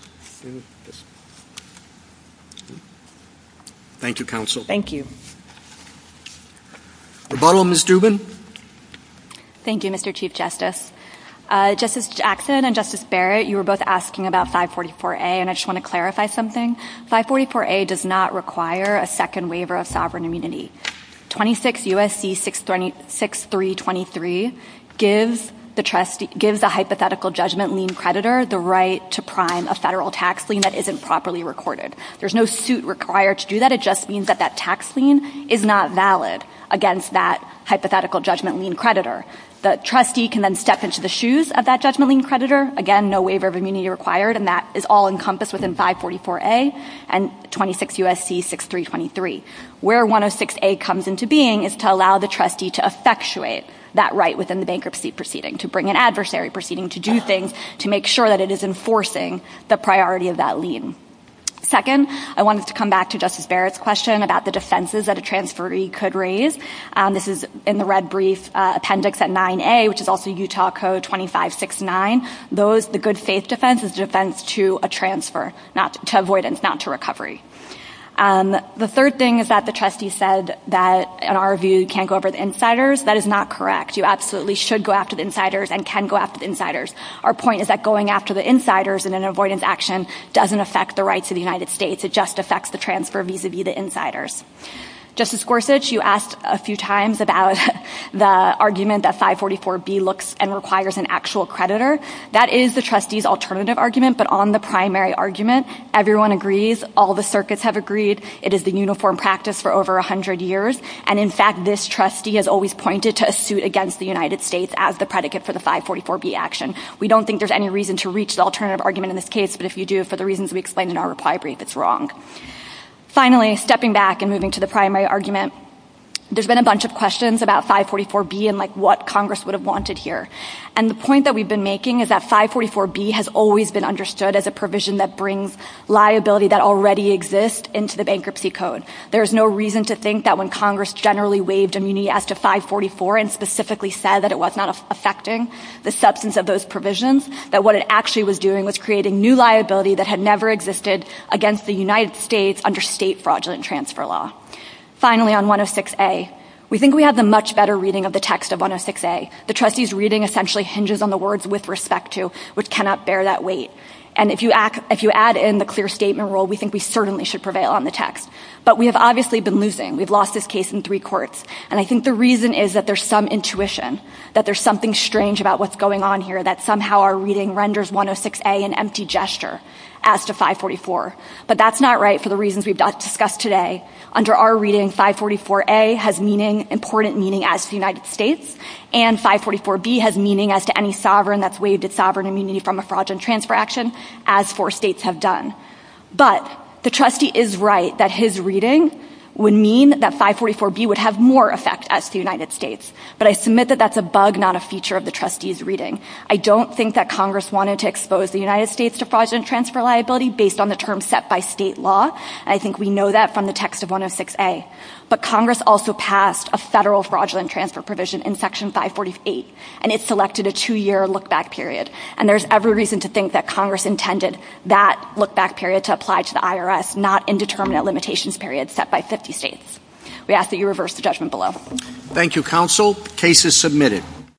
Thank you, counsel. Thank you. Rebuttal, Ms. Dubin. Thank you, Mr. Chief Justice. Justice Jackson and Justice Barrett, you were both asking about 544A, and I just want to clarify something. 544A does not require a second waiver of sovereign immunity. 26 U.S.C. 6323 gives the hypothetical judgment lien creditor the right to prime a federal tax lien that isn't properly recorded. There's no suit required to do that. It just means that that tax lien is not valid against that hypothetical judgment lien creditor. The trustee can then step into the shoes of that judgment lien creditor. Again, no waiver of immunity required, and that is all encompassed within 544A and 26 U.S.C. 6323. Where 106A comes into being is to allow the trustee to effectuate that right within the bankruptcy proceeding, to bring an adversary proceeding to do things to make sure that it is enforcing the priority of that lien. Second, I wanted to come back to Justice Barrett's question about the defenses that a transferee could raise. This is in the red brief appendix at 9A, which is also Utah Code 2569. The good faith defense is a defense to a transfer, to avoidance, not to recovery. The third thing is that the trustee said that, in our view, you can't go after the insiders. That is not correct. You absolutely should go after the insiders and can go after the insiders. Our point is that going after the insiders in an avoidance action doesn't affect the rights of the United States. It just affects the transfer vis-a-vis the insiders. Justice Gorsuch, you asked a few times about the argument that 544B looks and requires an actual creditor. That is the trustee's alternative argument, but on the primary argument, everyone agrees. All the circuits have agreed. It is the uniform practice for over 100 years. And, in fact, this trustee has always pointed to a suit against the United States as the predicate for the 544B action. We don't think there's any reason to reach the alternative argument in this case, but if you do, for the reasons we explained in our reply brief, it's wrong. Finally, stepping back and moving to the primary argument, there's been a bunch of questions about 544B and what Congress would have wanted here. And the point that we've been making is that 544B has always been understood as a provision that brings liability that already exists into the bankruptcy code. There's no reason to think that when Congress generally waived immunity as to 544 and specifically said that it was not affecting the substance of those provisions, that what it actually was doing was creating new liability that had never existed against the United States under state fraudulent transfer law. Finally, on 106A, we think we have the much better reading of the text of 106A. The trustee's reading essentially hinges on the words with respect to, which cannot bear that weight. And if you add in the clear statement rule, we think we certainly should prevail on the text. But we have obviously been losing. We've lost this case in three courts. And I think the reason is that there's some intuition, that there's something strange about what's going on here, that somehow our reading renders 106A an empty gesture as to 544. But that's not right for the reasons we've discussed today. Under our reading, 544A has important meaning as to the United States, and 544B has meaning as to any sovereign that's waived its sovereign immunity from a fraudulent transfer action, as four states have done. But the trustee is right that his reading would mean that 544B would have more effect as to the United States. But I submit that that's a bug, not a feature of the trustee's reading. I don't think that Congress wanted to expose the United States to fraudulent transfer liability based on the terms set by state law. And I think we know that from the text of 106A. But Congress also passed a federal fraudulent transfer provision in Section 548, and it selected a two-year look-back period. And there's every reason to think that Congress intended that look-back period to apply to the IRS, not indeterminate limitations period set by 50 states. We ask that you reverse the judgment below. Thank you, Counsel. Case is submitted.